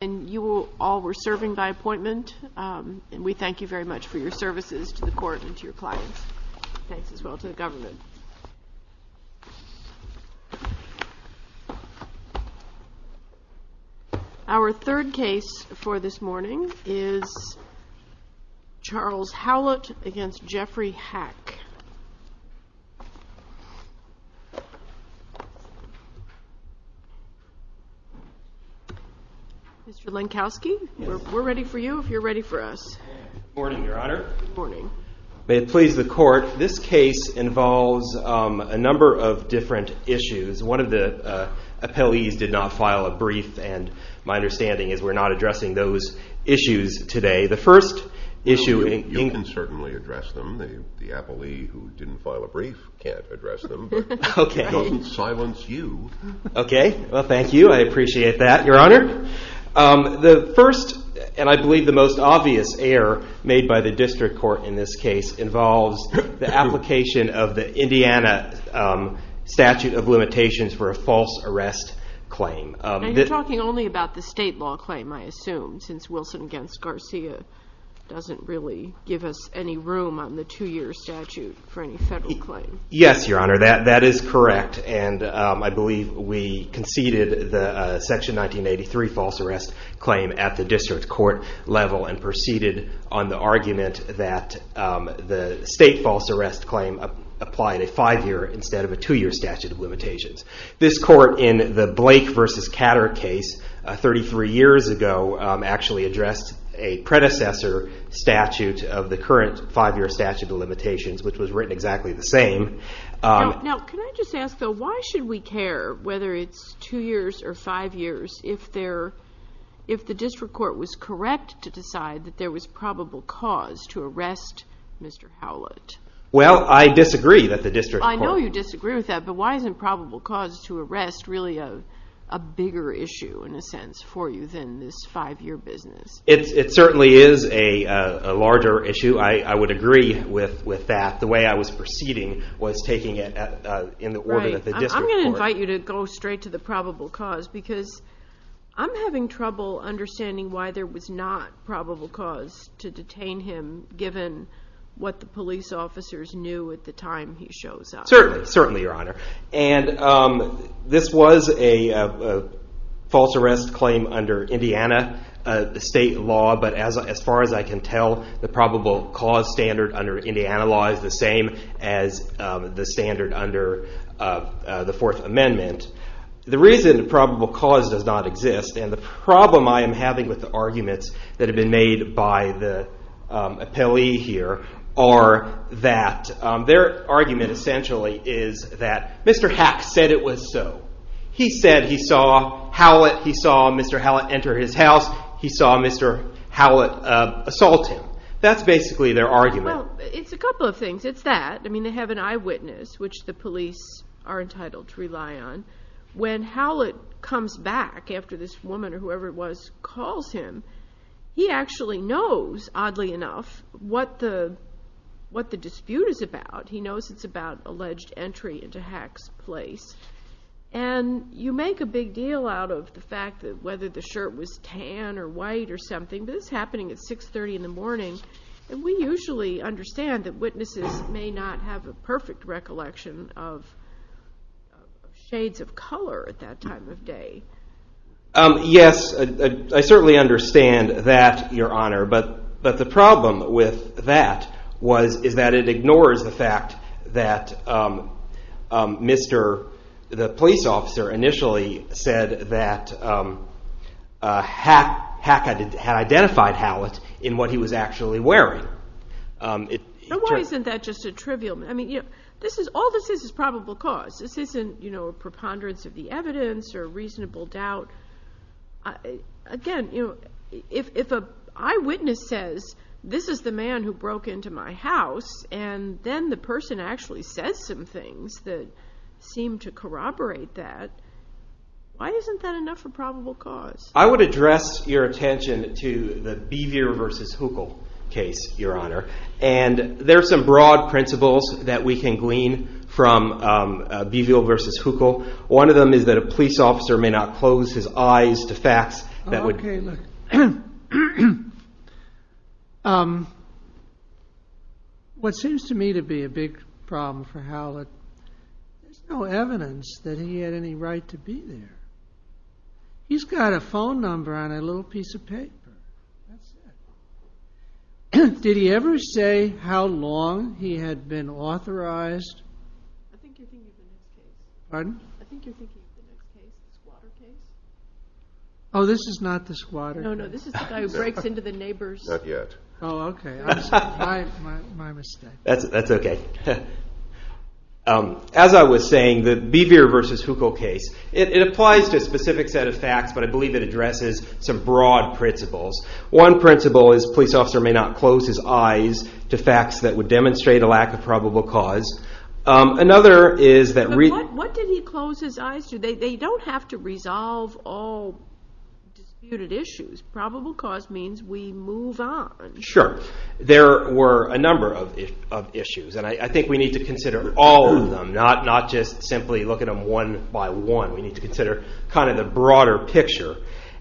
And you all were serving by appointment, and we thank you very much for your services to the court and to your clients, and thanks as well to the government. Our third case for this morning is Charles Howlett v. Jeffrey Hack. Mr. Lenkowski, we're ready for you if you're ready for us. Good morning, Your Honor. Good morning. May it please the court, this case involves a number of different issues. One of the appellees did not file a brief, and my understanding is we're not addressing those issues today. The first issue... No, you can certainly address them. The appellee who didn't file a brief can't address them, but we don't silence you. Okay, well, thank you. I appreciate that, Your Honor. The first, and I believe the most clear, made by the district court in this case involves the application of the Indiana statute of limitations for a false arrest claim. And you're talking only about the state law claim, I assume, since Wilson v. Garcia doesn't really give us any room on the two-year statute for any federal claim. Yes, Your Honor, that is correct, and I believe we conceded the Section 1983 false arrest claim at the district court level and proceeded on the argument that the state false arrest claim applied a five-year instead of a two-year statute of limitations. This court in the Blake v. Catter case 33 years ago actually addressed a predecessor statute of the current five-year statute of limitations, which was written exactly the same. Now, can I just ask, though, why should we care whether it's two years or five years if the district court was correct to decide that there was probable cause to arrest Mr. Howlett? Well, I disagree that the district court... I know you disagree with that, but why isn't probable cause to arrest really a bigger issue, in a sense, for you than this five-year business? It certainly is a larger issue. I would agree with that. The way I was proceeding was taking it in the order that the district court... I'm having trouble understanding why there was not probable cause to detain him, given what the police officers knew at the time he shows up. Certainly, certainly, Your Honor. And this was a false arrest claim under Indiana state law, but as far as I can tell, the probable cause standard under Indiana law is the same as the standard under the Fourth Amendment. The reason probable cause does not exist, and the problem I am having with the arguments that have been made by the appellee here, are that their argument, essentially, is that Mr. Hack said it was so. He said he saw Howlett. He saw Mr. Howlett enter his house. He saw Mr. Howlett assault him. That's basically their argument. Well, it's a couple of things. It's that. I mean, they have an eyewitness, which the When Howlett comes back after this woman, or whoever it was, calls him, he actually knows, oddly enough, what the dispute is about. He knows it's about alleged entry into Hack's place. And you make a big deal out of the fact that whether the shirt was tan or white or something, but this is happening at 6.30 in the morning, and we usually understand that witnesses may not have a perfect recollection of shades of color at that time of day. Yes, I certainly understand that, Your Honor, but the problem with that is that it ignores the fact that the police officer initially said that Hack had identified Howlett in what he was actually wearing. Now, why isn't that just a trivial? I mean, all this is is probable cause. This isn't a preponderance of the evidence or reasonable doubt. Again, if an eyewitness says, this is the man who broke into my house, and then the person actually says some things that seem to corroborate that, why isn't that enough of a probable cause? I would address your attention to the Beavier v. Huckel case, Your Honor, and there are some broad principles that we can glean from Beavier v. Huckel. One of them is that a police officer may not close his eyes to facts that would... Okay, look. What seems to me to be a big problem for Howlett, there's no evidence that he had any right to be there. He's got a phone number on a little piece of paper. That's it. Did he ever say how long he had been authorized? I think you're thinking of the case. Pardon? I think you're thinking of the case, the squatter case. Oh, this is not the squatter case. No, no, this is the guy who breaks into the neighbor's... Not yet. Oh, okay. My mistake. That's okay. As I was saying, the Beavier v. Huckel case, it applies to a specific set of facts, but I believe it addresses some broad principles. One principle is a police officer may not close his eyes to facts that would demonstrate a lack of probable cause. Another is that... But what did he close his eyes to? They don't have to resolve all disputed issues. Probable cause means we move on. Sure. There were a number of issues, and I think we need to consider all of them, not just simply look at them one by one. We need to consider the broader picture.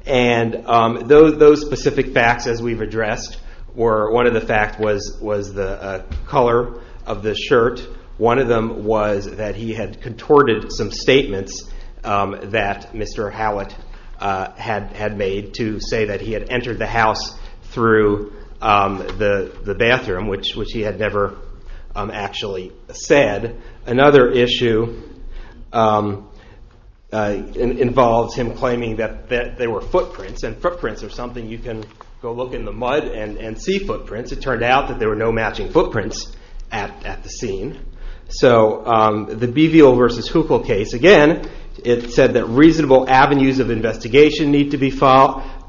Those specific facts, as we've addressed, one of the facts was the color of the shirt. One of them was that he had contorted some statements that Mr. Hallett had made to say that he had entered the house through the bathroom, which he had never actually said. Another issue involves him claiming that there were footprints, and footprints are something you can go look in the mud and see footprints. It turned out that there were no matching footprints at the scene. So the Beavier v. Huckel case, again, it said that reasonable avenues of investigation need to be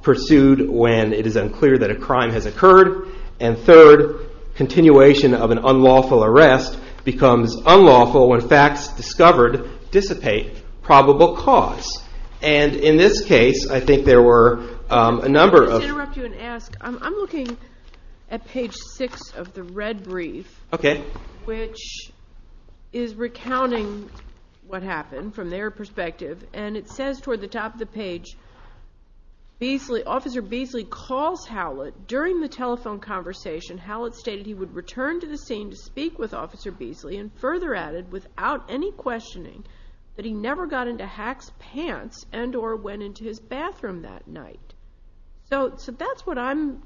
pursued when it is unclear that a crime has occurred. And third, continuation of an unlawful arrest becomes unlawful when facts discovered dissipate probable cause. And in this case, I think there were a number of... Let me just interrupt you and ask. I'm looking at page six of the red brief, which is recounting what happened from their perspective, and it says toward the top of the page, Officer Beasley calls Hallett. During the telephone conversation, Hallett stated he would return to the scene to speak with Officer Beasley, and further added, without any questioning, that he never got into Hack's pants and or went into his bathroom that night. So that's what I'm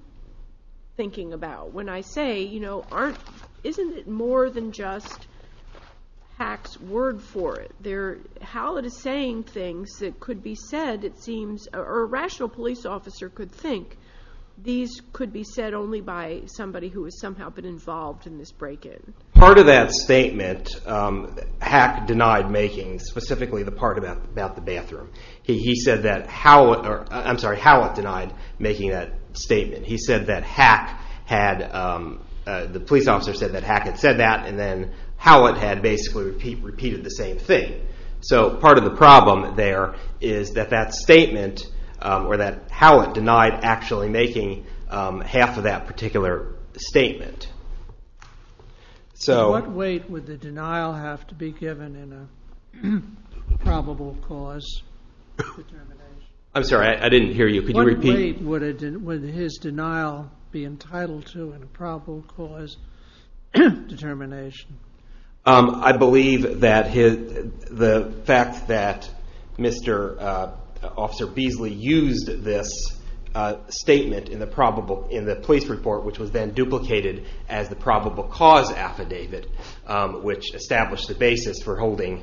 thinking about when I say, isn't it more than just Hack's word for it? How it is saying things that could be said, it seems, or a rational police officer could think, these could be said only by somebody who has somehow been involved in this break-in. Part of that statement, Hack denied making, specifically the part about the bathroom. He said that Hallett, I'm sorry, Hallett denied making that statement. He said that Hack had, the police officer said that Hack had said that, and then Hallett had basically repeated the same thing. So part of the problem there is that that statement, or that Hallett denied actually making half of that particular statement. So what weight would the denial have to be given in a probable cause determination? I'm sorry, I didn't hear you. Could you repeat? What weight would his denial be entitled to in a probable cause determination? I believe that the fact that Mr. Officer Beasley used this statement in the police report, which was then duplicated as the probable cause affidavit, which established the basis for holding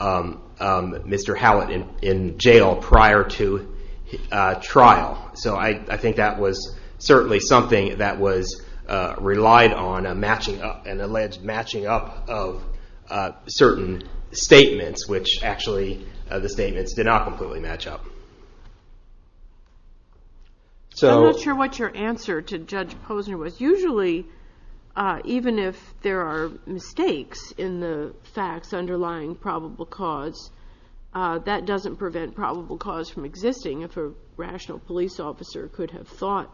Mr. Hallett in jail prior to trial. So I think that was certainly something that was relied on, an alleged matching up of certain statements, which actually the statements did not completely match up. I'm not sure what your answer to Judge Posner was. Usually even if there are mistakes in the facts underlying probable cause, that doesn't prevent probable cause from existing if a rational police officer could have thought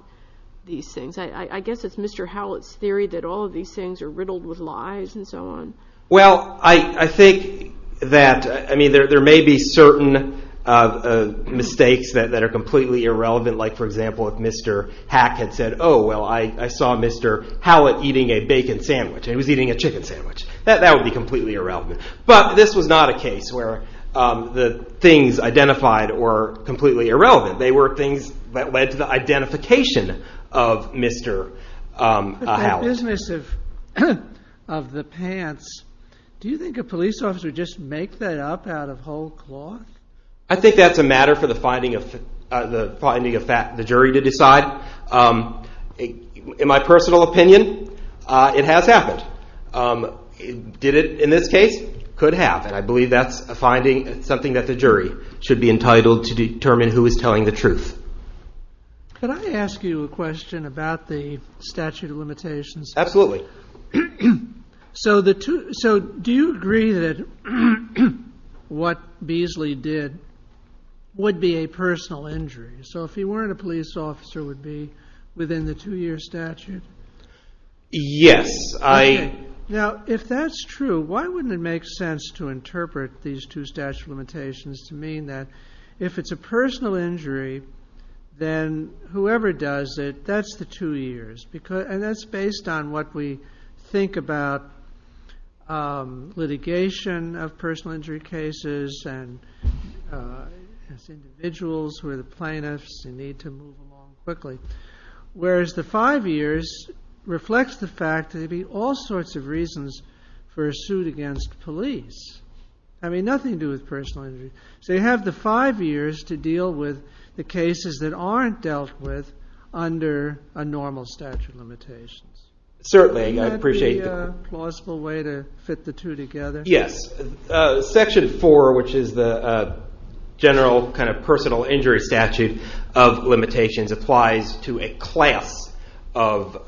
these things. I guess it's Mr. Hallett's theory that all of these things are riddled with lies and so on. Well, I think that there may be certain mistakes that are completely irrelevant. Like, for example, if Mr. Hack had said, oh, well, I saw Mr. Hallett eating a bacon sandwich. He was eating a chicken sandwich. That would be completely irrelevant. But this was not a case where the things identified were completely irrelevant. They were things that led to the identification of Mr. Hallett. But that business of the pants, do you think a police officer would just make that up out of whole cloth? I think that's a matter for the finding of the jury to decide. In my personal opinion, it has happened. Did it in this case? Could have. And I believe that's a finding, something that the jury should be entitled to determine who is telling the truth. Could I ask you a question about the statute of limitations? Absolutely. So do you agree that what Beasley did would be a personal injury? So if he weren't a police officer, would be within the two-year statute? Yes. Now, if that's true, why wouldn't it make sense to interpret these two statute limitations to mean that if it's a personal injury, then whoever does it, that's the two years. And that's based on what we think about litigation of personal injury cases and it's individuals who are the plaintiffs who need to move along quickly. Whereas the five years reflects the fact that there would be all sorts of reasons for a suit against police. I mean, nothing to do with personal injury. So you have the five years to deal with the cases that aren't dealt with under a normal statute of limitations. Certainly, I appreciate that. Would that be a plausible way to fit the two together? Yes. Section 4, which is the general kind of personal injury statute of limitations, applies to a class of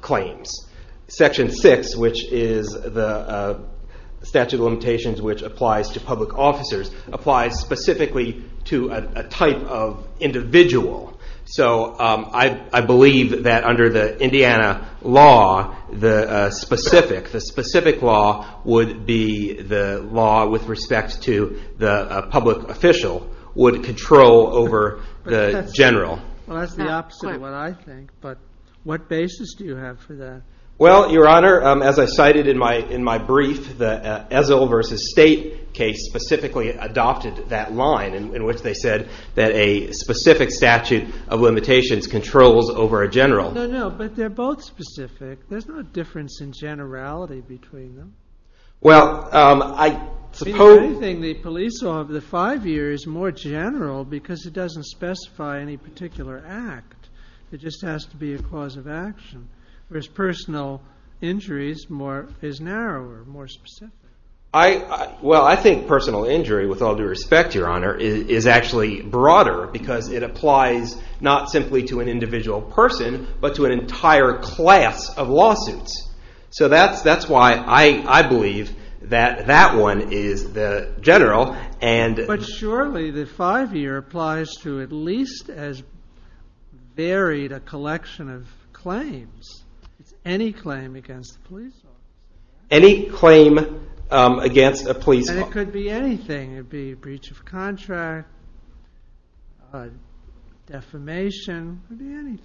claims. Section 6, which is the statute of limitations which applies to public officers, applies specifically to a type of individual. So I believe that under the Indiana law, the specific law would be the law with respect to the public official would control over the general. Well, that's the opposite of what I think. But what basis do you have for that? Well, Your Honor, as I cited in my brief, the Ezell v. State case specifically adopted that line in which they said that a specific statute of limitations controls over a general. No, no, but they're both specific. There's no difference in generality between them. Well, I suppose... The police law of the five years is more general because it doesn't specify any particular act. It just has to be a cause of action, whereas personal injuries is narrower, more specific. Well, I think personal injury, with all due respect, Your Honor, is actually broader because it applies not simply to an individual person but to an entire class of lawsuits. So that's why I believe that that one is the general. But surely the five-year applies to at least as varied a collection of claims. It's any claim against a police officer. Any claim against a police officer. And it could be anything. It could be a breach of contract, defamation. It could be anything.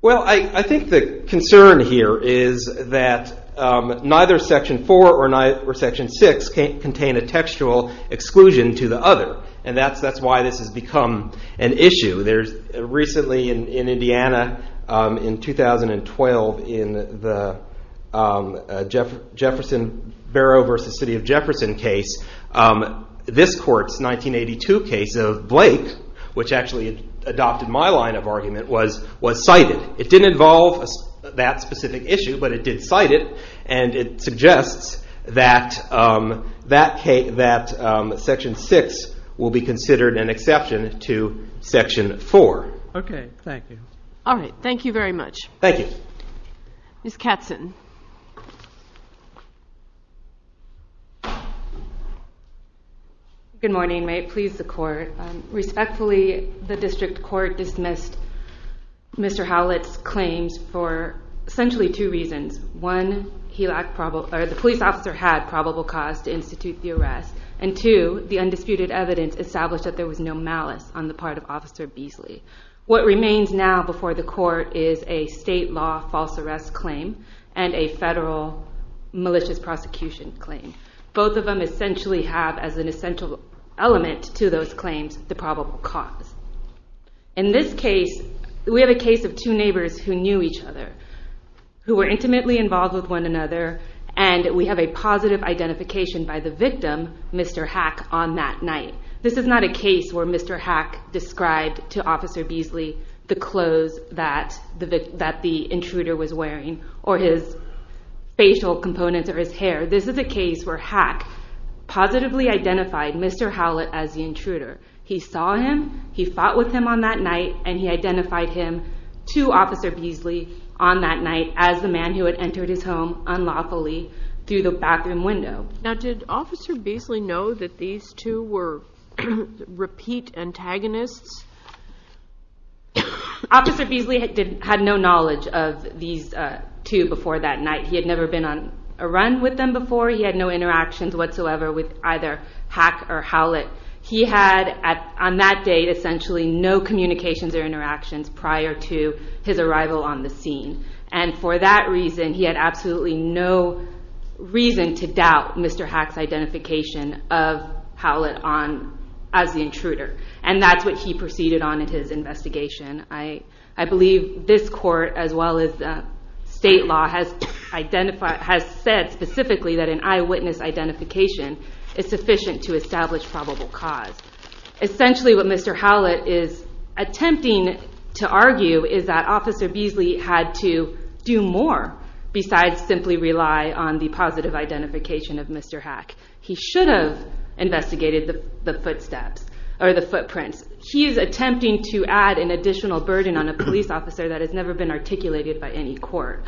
Well, I think the concern here is that neither Section 4 or Section 6 contain a textual exclusion to the other, and that's why this has become an issue. Recently in Indiana, in 2012, in the Jefferson Barrow v. City of Jefferson case, this court's 1982 case of Blake, which actually adopted my line of argument, was cited. It didn't involve that specific issue, but it did cite it, and it suggests that Section 6 will be considered an exception to Section 4. Okay, thank you. All right. Thank you very much. Thank you. Ms. Katzen. Good morning. May it please the Court. Respectfully, the District Court dismissed Mr. Howlett's claims for essentially two reasons. One, the police officer had probable cause to institute the arrest, and two, the undisputed evidence established that there was no malice on the part of Officer Beasley. What remains now before the Court is a state law false arrest claim and a federal malicious prosecution claim. Both of them essentially have as an essential element to those claims the probable cause. In this case, we have a case of two neighbors who knew each other, who were intimately involved with one another, and we have a positive identification by the victim, Mr. Hack, on that night. This is not a case where Mr. Hack described to Officer Beasley the clothes that the intruder was wearing or his facial components or his hair. This is a case where Hack positively identified Mr. Howlett as the intruder. He saw him, he fought with him on that night, and he identified him to Officer Beasley on that night as the man who had entered his home unlawfully through the bathroom window. Now did Officer Beasley know that these two were repeat antagonists? Officer Beasley had no knowledge of these two before that night. He had never been on a run with them before. He had no interactions whatsoever with either Hack or Howlett. He had, on that day, essentially no communications or interactions prior to his arrival on the scene. And for that reason, he had absolutely no reason to doubt Mr. Hack's identification of Howlett as the intruder. And that's what he proceeded on in his investigation. I believe this court, as well as the state law, has said specifically that an eyewitness identification is sufficient to establish probable cause. Essentially what Mr. Howlett is attempting to argue is that Officer Beasley had to do more besides simply rely on the positive identification of Mr. Hack. He should have investigated the footsteps or the footprints. He is attempting to add an additional burden on a police officer that has never been articulated by any court.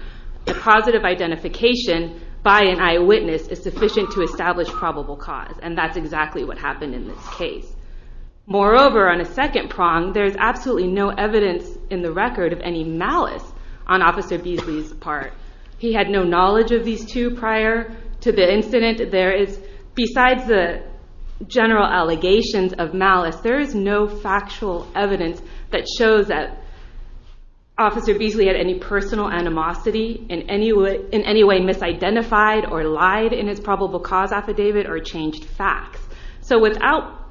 A positive identification by an eyewitness is sufficient to establish probable cause. And that's exactly what happened in this case. Moreover, on a second prong, there is absolutely no evidence in the record of any malice on Officer Beasley's part. He had no knowledge of these two prior to the incident. Besides the general allegations of malice, there is no factual evidence that shows that Officer Beasley had any personal animosity, in any way misidentified or lied in his probable cause affidavit, or changed facts. So without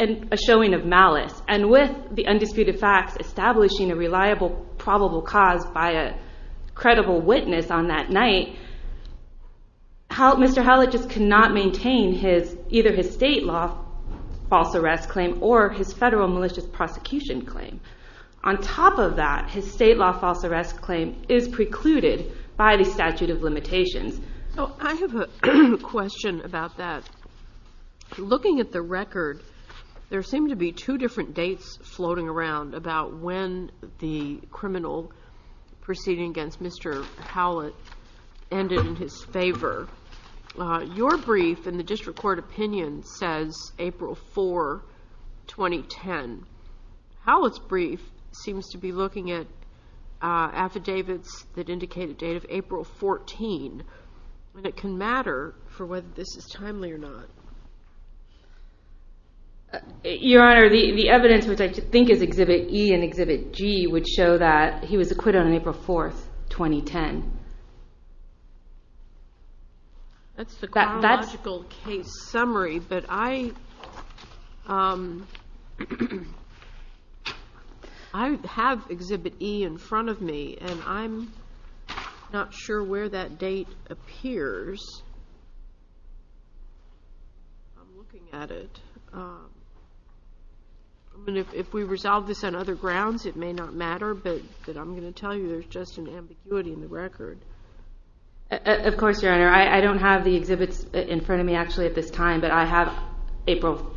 a showing of malice, and with the undisputed facts establishing a reliable probable cause by a credible witness on that night, Mr. Howlett just could not maintain either his state law false arrest claim or his federal malicious prosecution claim. On top of that, his state law false arrest claim is precluded by the statute of limitations. I have a question about that. Looking at the record, there seem to be two different dates floating around about when the criminal proceeding against Mr. Howlett ended in his favor. Your brief in the district court opinion says April 4, 2010. Howlett's brief seems to be looking at affidavits that indicate a date of April 14, and it can matter for whether this is timely or not. Your Honor, the evidence, which I think is Exhibit E and Exhibit G, would show that he was acquitted on April 4, 2010. That's the chronological case summary, but I have Exhibit E in front of me, and I'm not sure where that date appears. I'm looking at it. If we resolve this on other grounds, it may not matter, but I'm going to tell you there's just an ambiguity in the record. Of course, Your Honor. I don't have the exhibits in front of me actually at this time, but I have April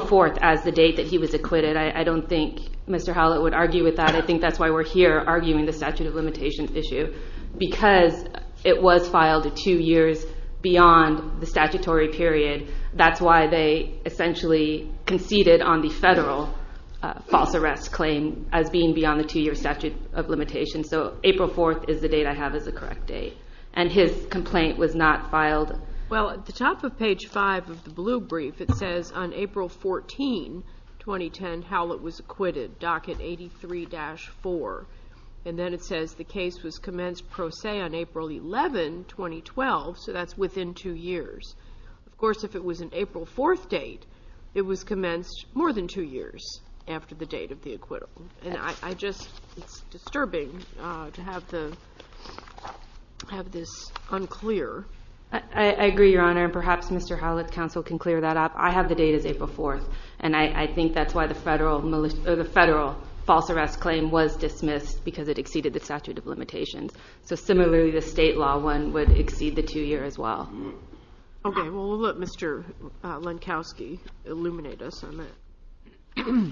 4 as the date that he was acquitted. I don't think Mr. Howlett would argue with that. I think that's why we're here arguing the statute of limitations issue because it was filed two years beyond the statutory period. That's why they essentially conceded on the federal false arrest claim as being beyond the two-year statute of limitations. So April 4 is the date I have as the correct date, and his complaint was not filed. Well, at the top of page 5 of the blue brief, it says, on April 14, 2010, Howlett was acquitted, docket 83-4, and then it says the case was commenced pro se on April 11, 2012, so that's within two years. Of course, if it was an April 4 date, it was commenced more than two years after the date of the acquittal. It's disturbing to have this unclear. I agree, Your Honor, and perhaps Mr. Howlett's counsel can clear that up. I have the date as April 4, and I think that's why the federal false arrest claim was dismissed because it exceeded the statute of limitations. So similarly, the state law one would exceed the two-year as well. Okay, well, we'll let Mr. Lenkowski illuminate us on that.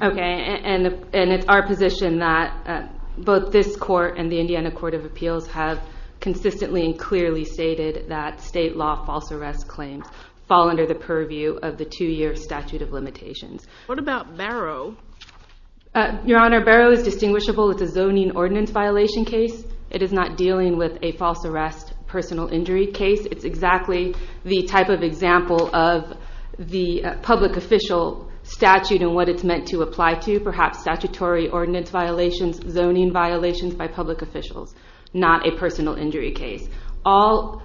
Okay, and it's our position that both this court and the Indiana Court of Appeals have consistently and clearly stated that state law false arrest claims fall under the purview of the two-year statute of limitations. What about Barrow? Your Honor, Barrow is distinguishable. It's a zoning ordinance violation case. It is not dealing with a false arrest personal injury case. It's exactly the type of example of the public official statute and what it's meant to apply to, perhaps statutory ordinance violations, zoning violations by public officials, not a personal injury case. All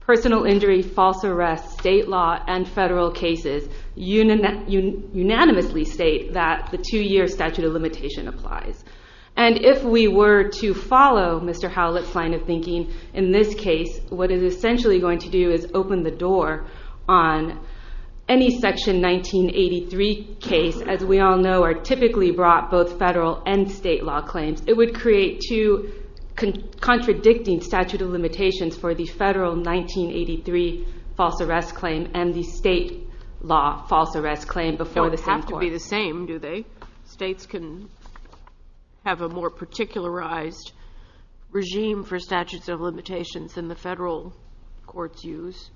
personal injury, false arrest, state law, and federal cases unanimously state that the two-year statute of limitation applies. And if we were to follow Mr. Howlett's line of thinking in this case, what it is essentially going to do is open the door on any Section 1983 case, as we all know, are typically brought both federal and state law claims. It would create two contradicting statute of limitations for the federal 1983 false arrest claim and the state law false arrest claim before the same court. They don't have to be the same, do they? States can have a more particularized regime for statute of limitations than the federal courts use.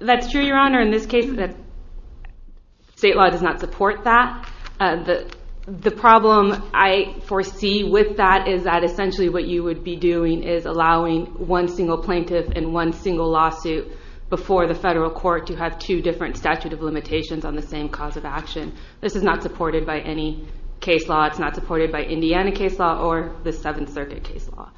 That's true, Your Honor. In this case, state law does not support that. The problem I foresee with that is that essentially what you would be doing is allowing one single plaintiff in one single lawsuit before the federal court to have two different statute of limitations on the same cause of action. This is not supported by any case law. It's not supported by Indiana case law or the Seventh Circuit case law.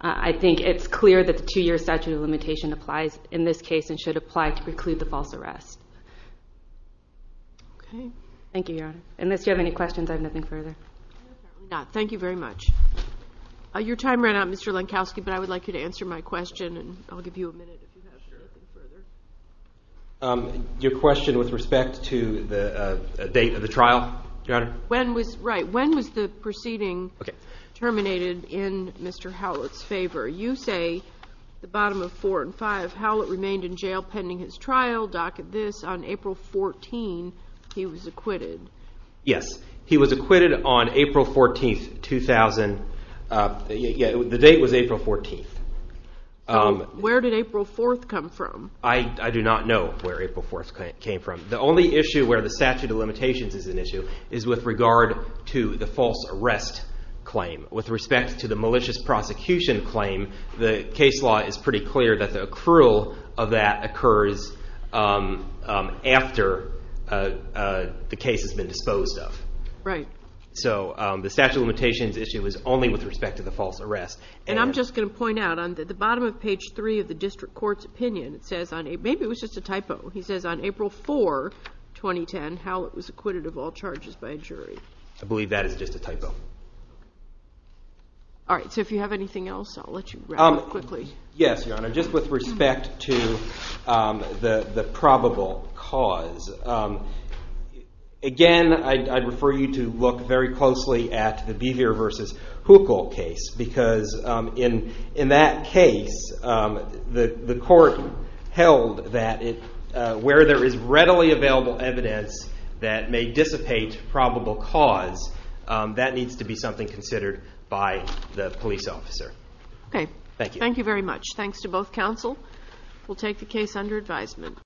I think it's clear that the two-year statute of limitation applies in this case and should apply to preclude the false arrest. Thank you, Your Honor. Unless you have any questions, I have nothing further. Thank you very much. Your time ran out, Mr. Lenkowski, but I would like you to answer my question. I'll give you a minute. Your question with respect to the date of the trial, Your Honor? Right. When was the proceeding terminated in Mr. Howlett's favor? You say the bottom of 4 and 5. Howlett remained in jail pending his trial. Docket this. On April 14, he was acquitted. Yes. He was acquitted on April 14, 2000. The date was April 14. Where did April 4 come from? I do not know where April 4 came from. The only issue where the statute of limitations is an issue is with regard to the false arrest claim. With respect to the malicious prosecution claim, the case law is pretty clear that the accrual of that occurs after the case has been disposed of. Right. So the statute of limitations issue is only with respect to the false arrest. And I'm just going to point out on the bottom of page 3 of the district court's opinion, maybe it was just a typo. He says on April 4, 2010, Howlett was acquitted of all charges by a jury. I believe that is just a typo. All right. So if you have anything else, I'll let you wrap up quickly. Yes, Your Honor. Just with respect to the probable cause, again, I'd refer you to look very closely at the Beaver v. Huckel case because in that case, the court held that where there is readily available evidence that may dissipate probable cause, that needs to be something considered by the police officer. Okay. Thank you. Thank you very much. Thanks to both counsel. We'll take the case under advisement.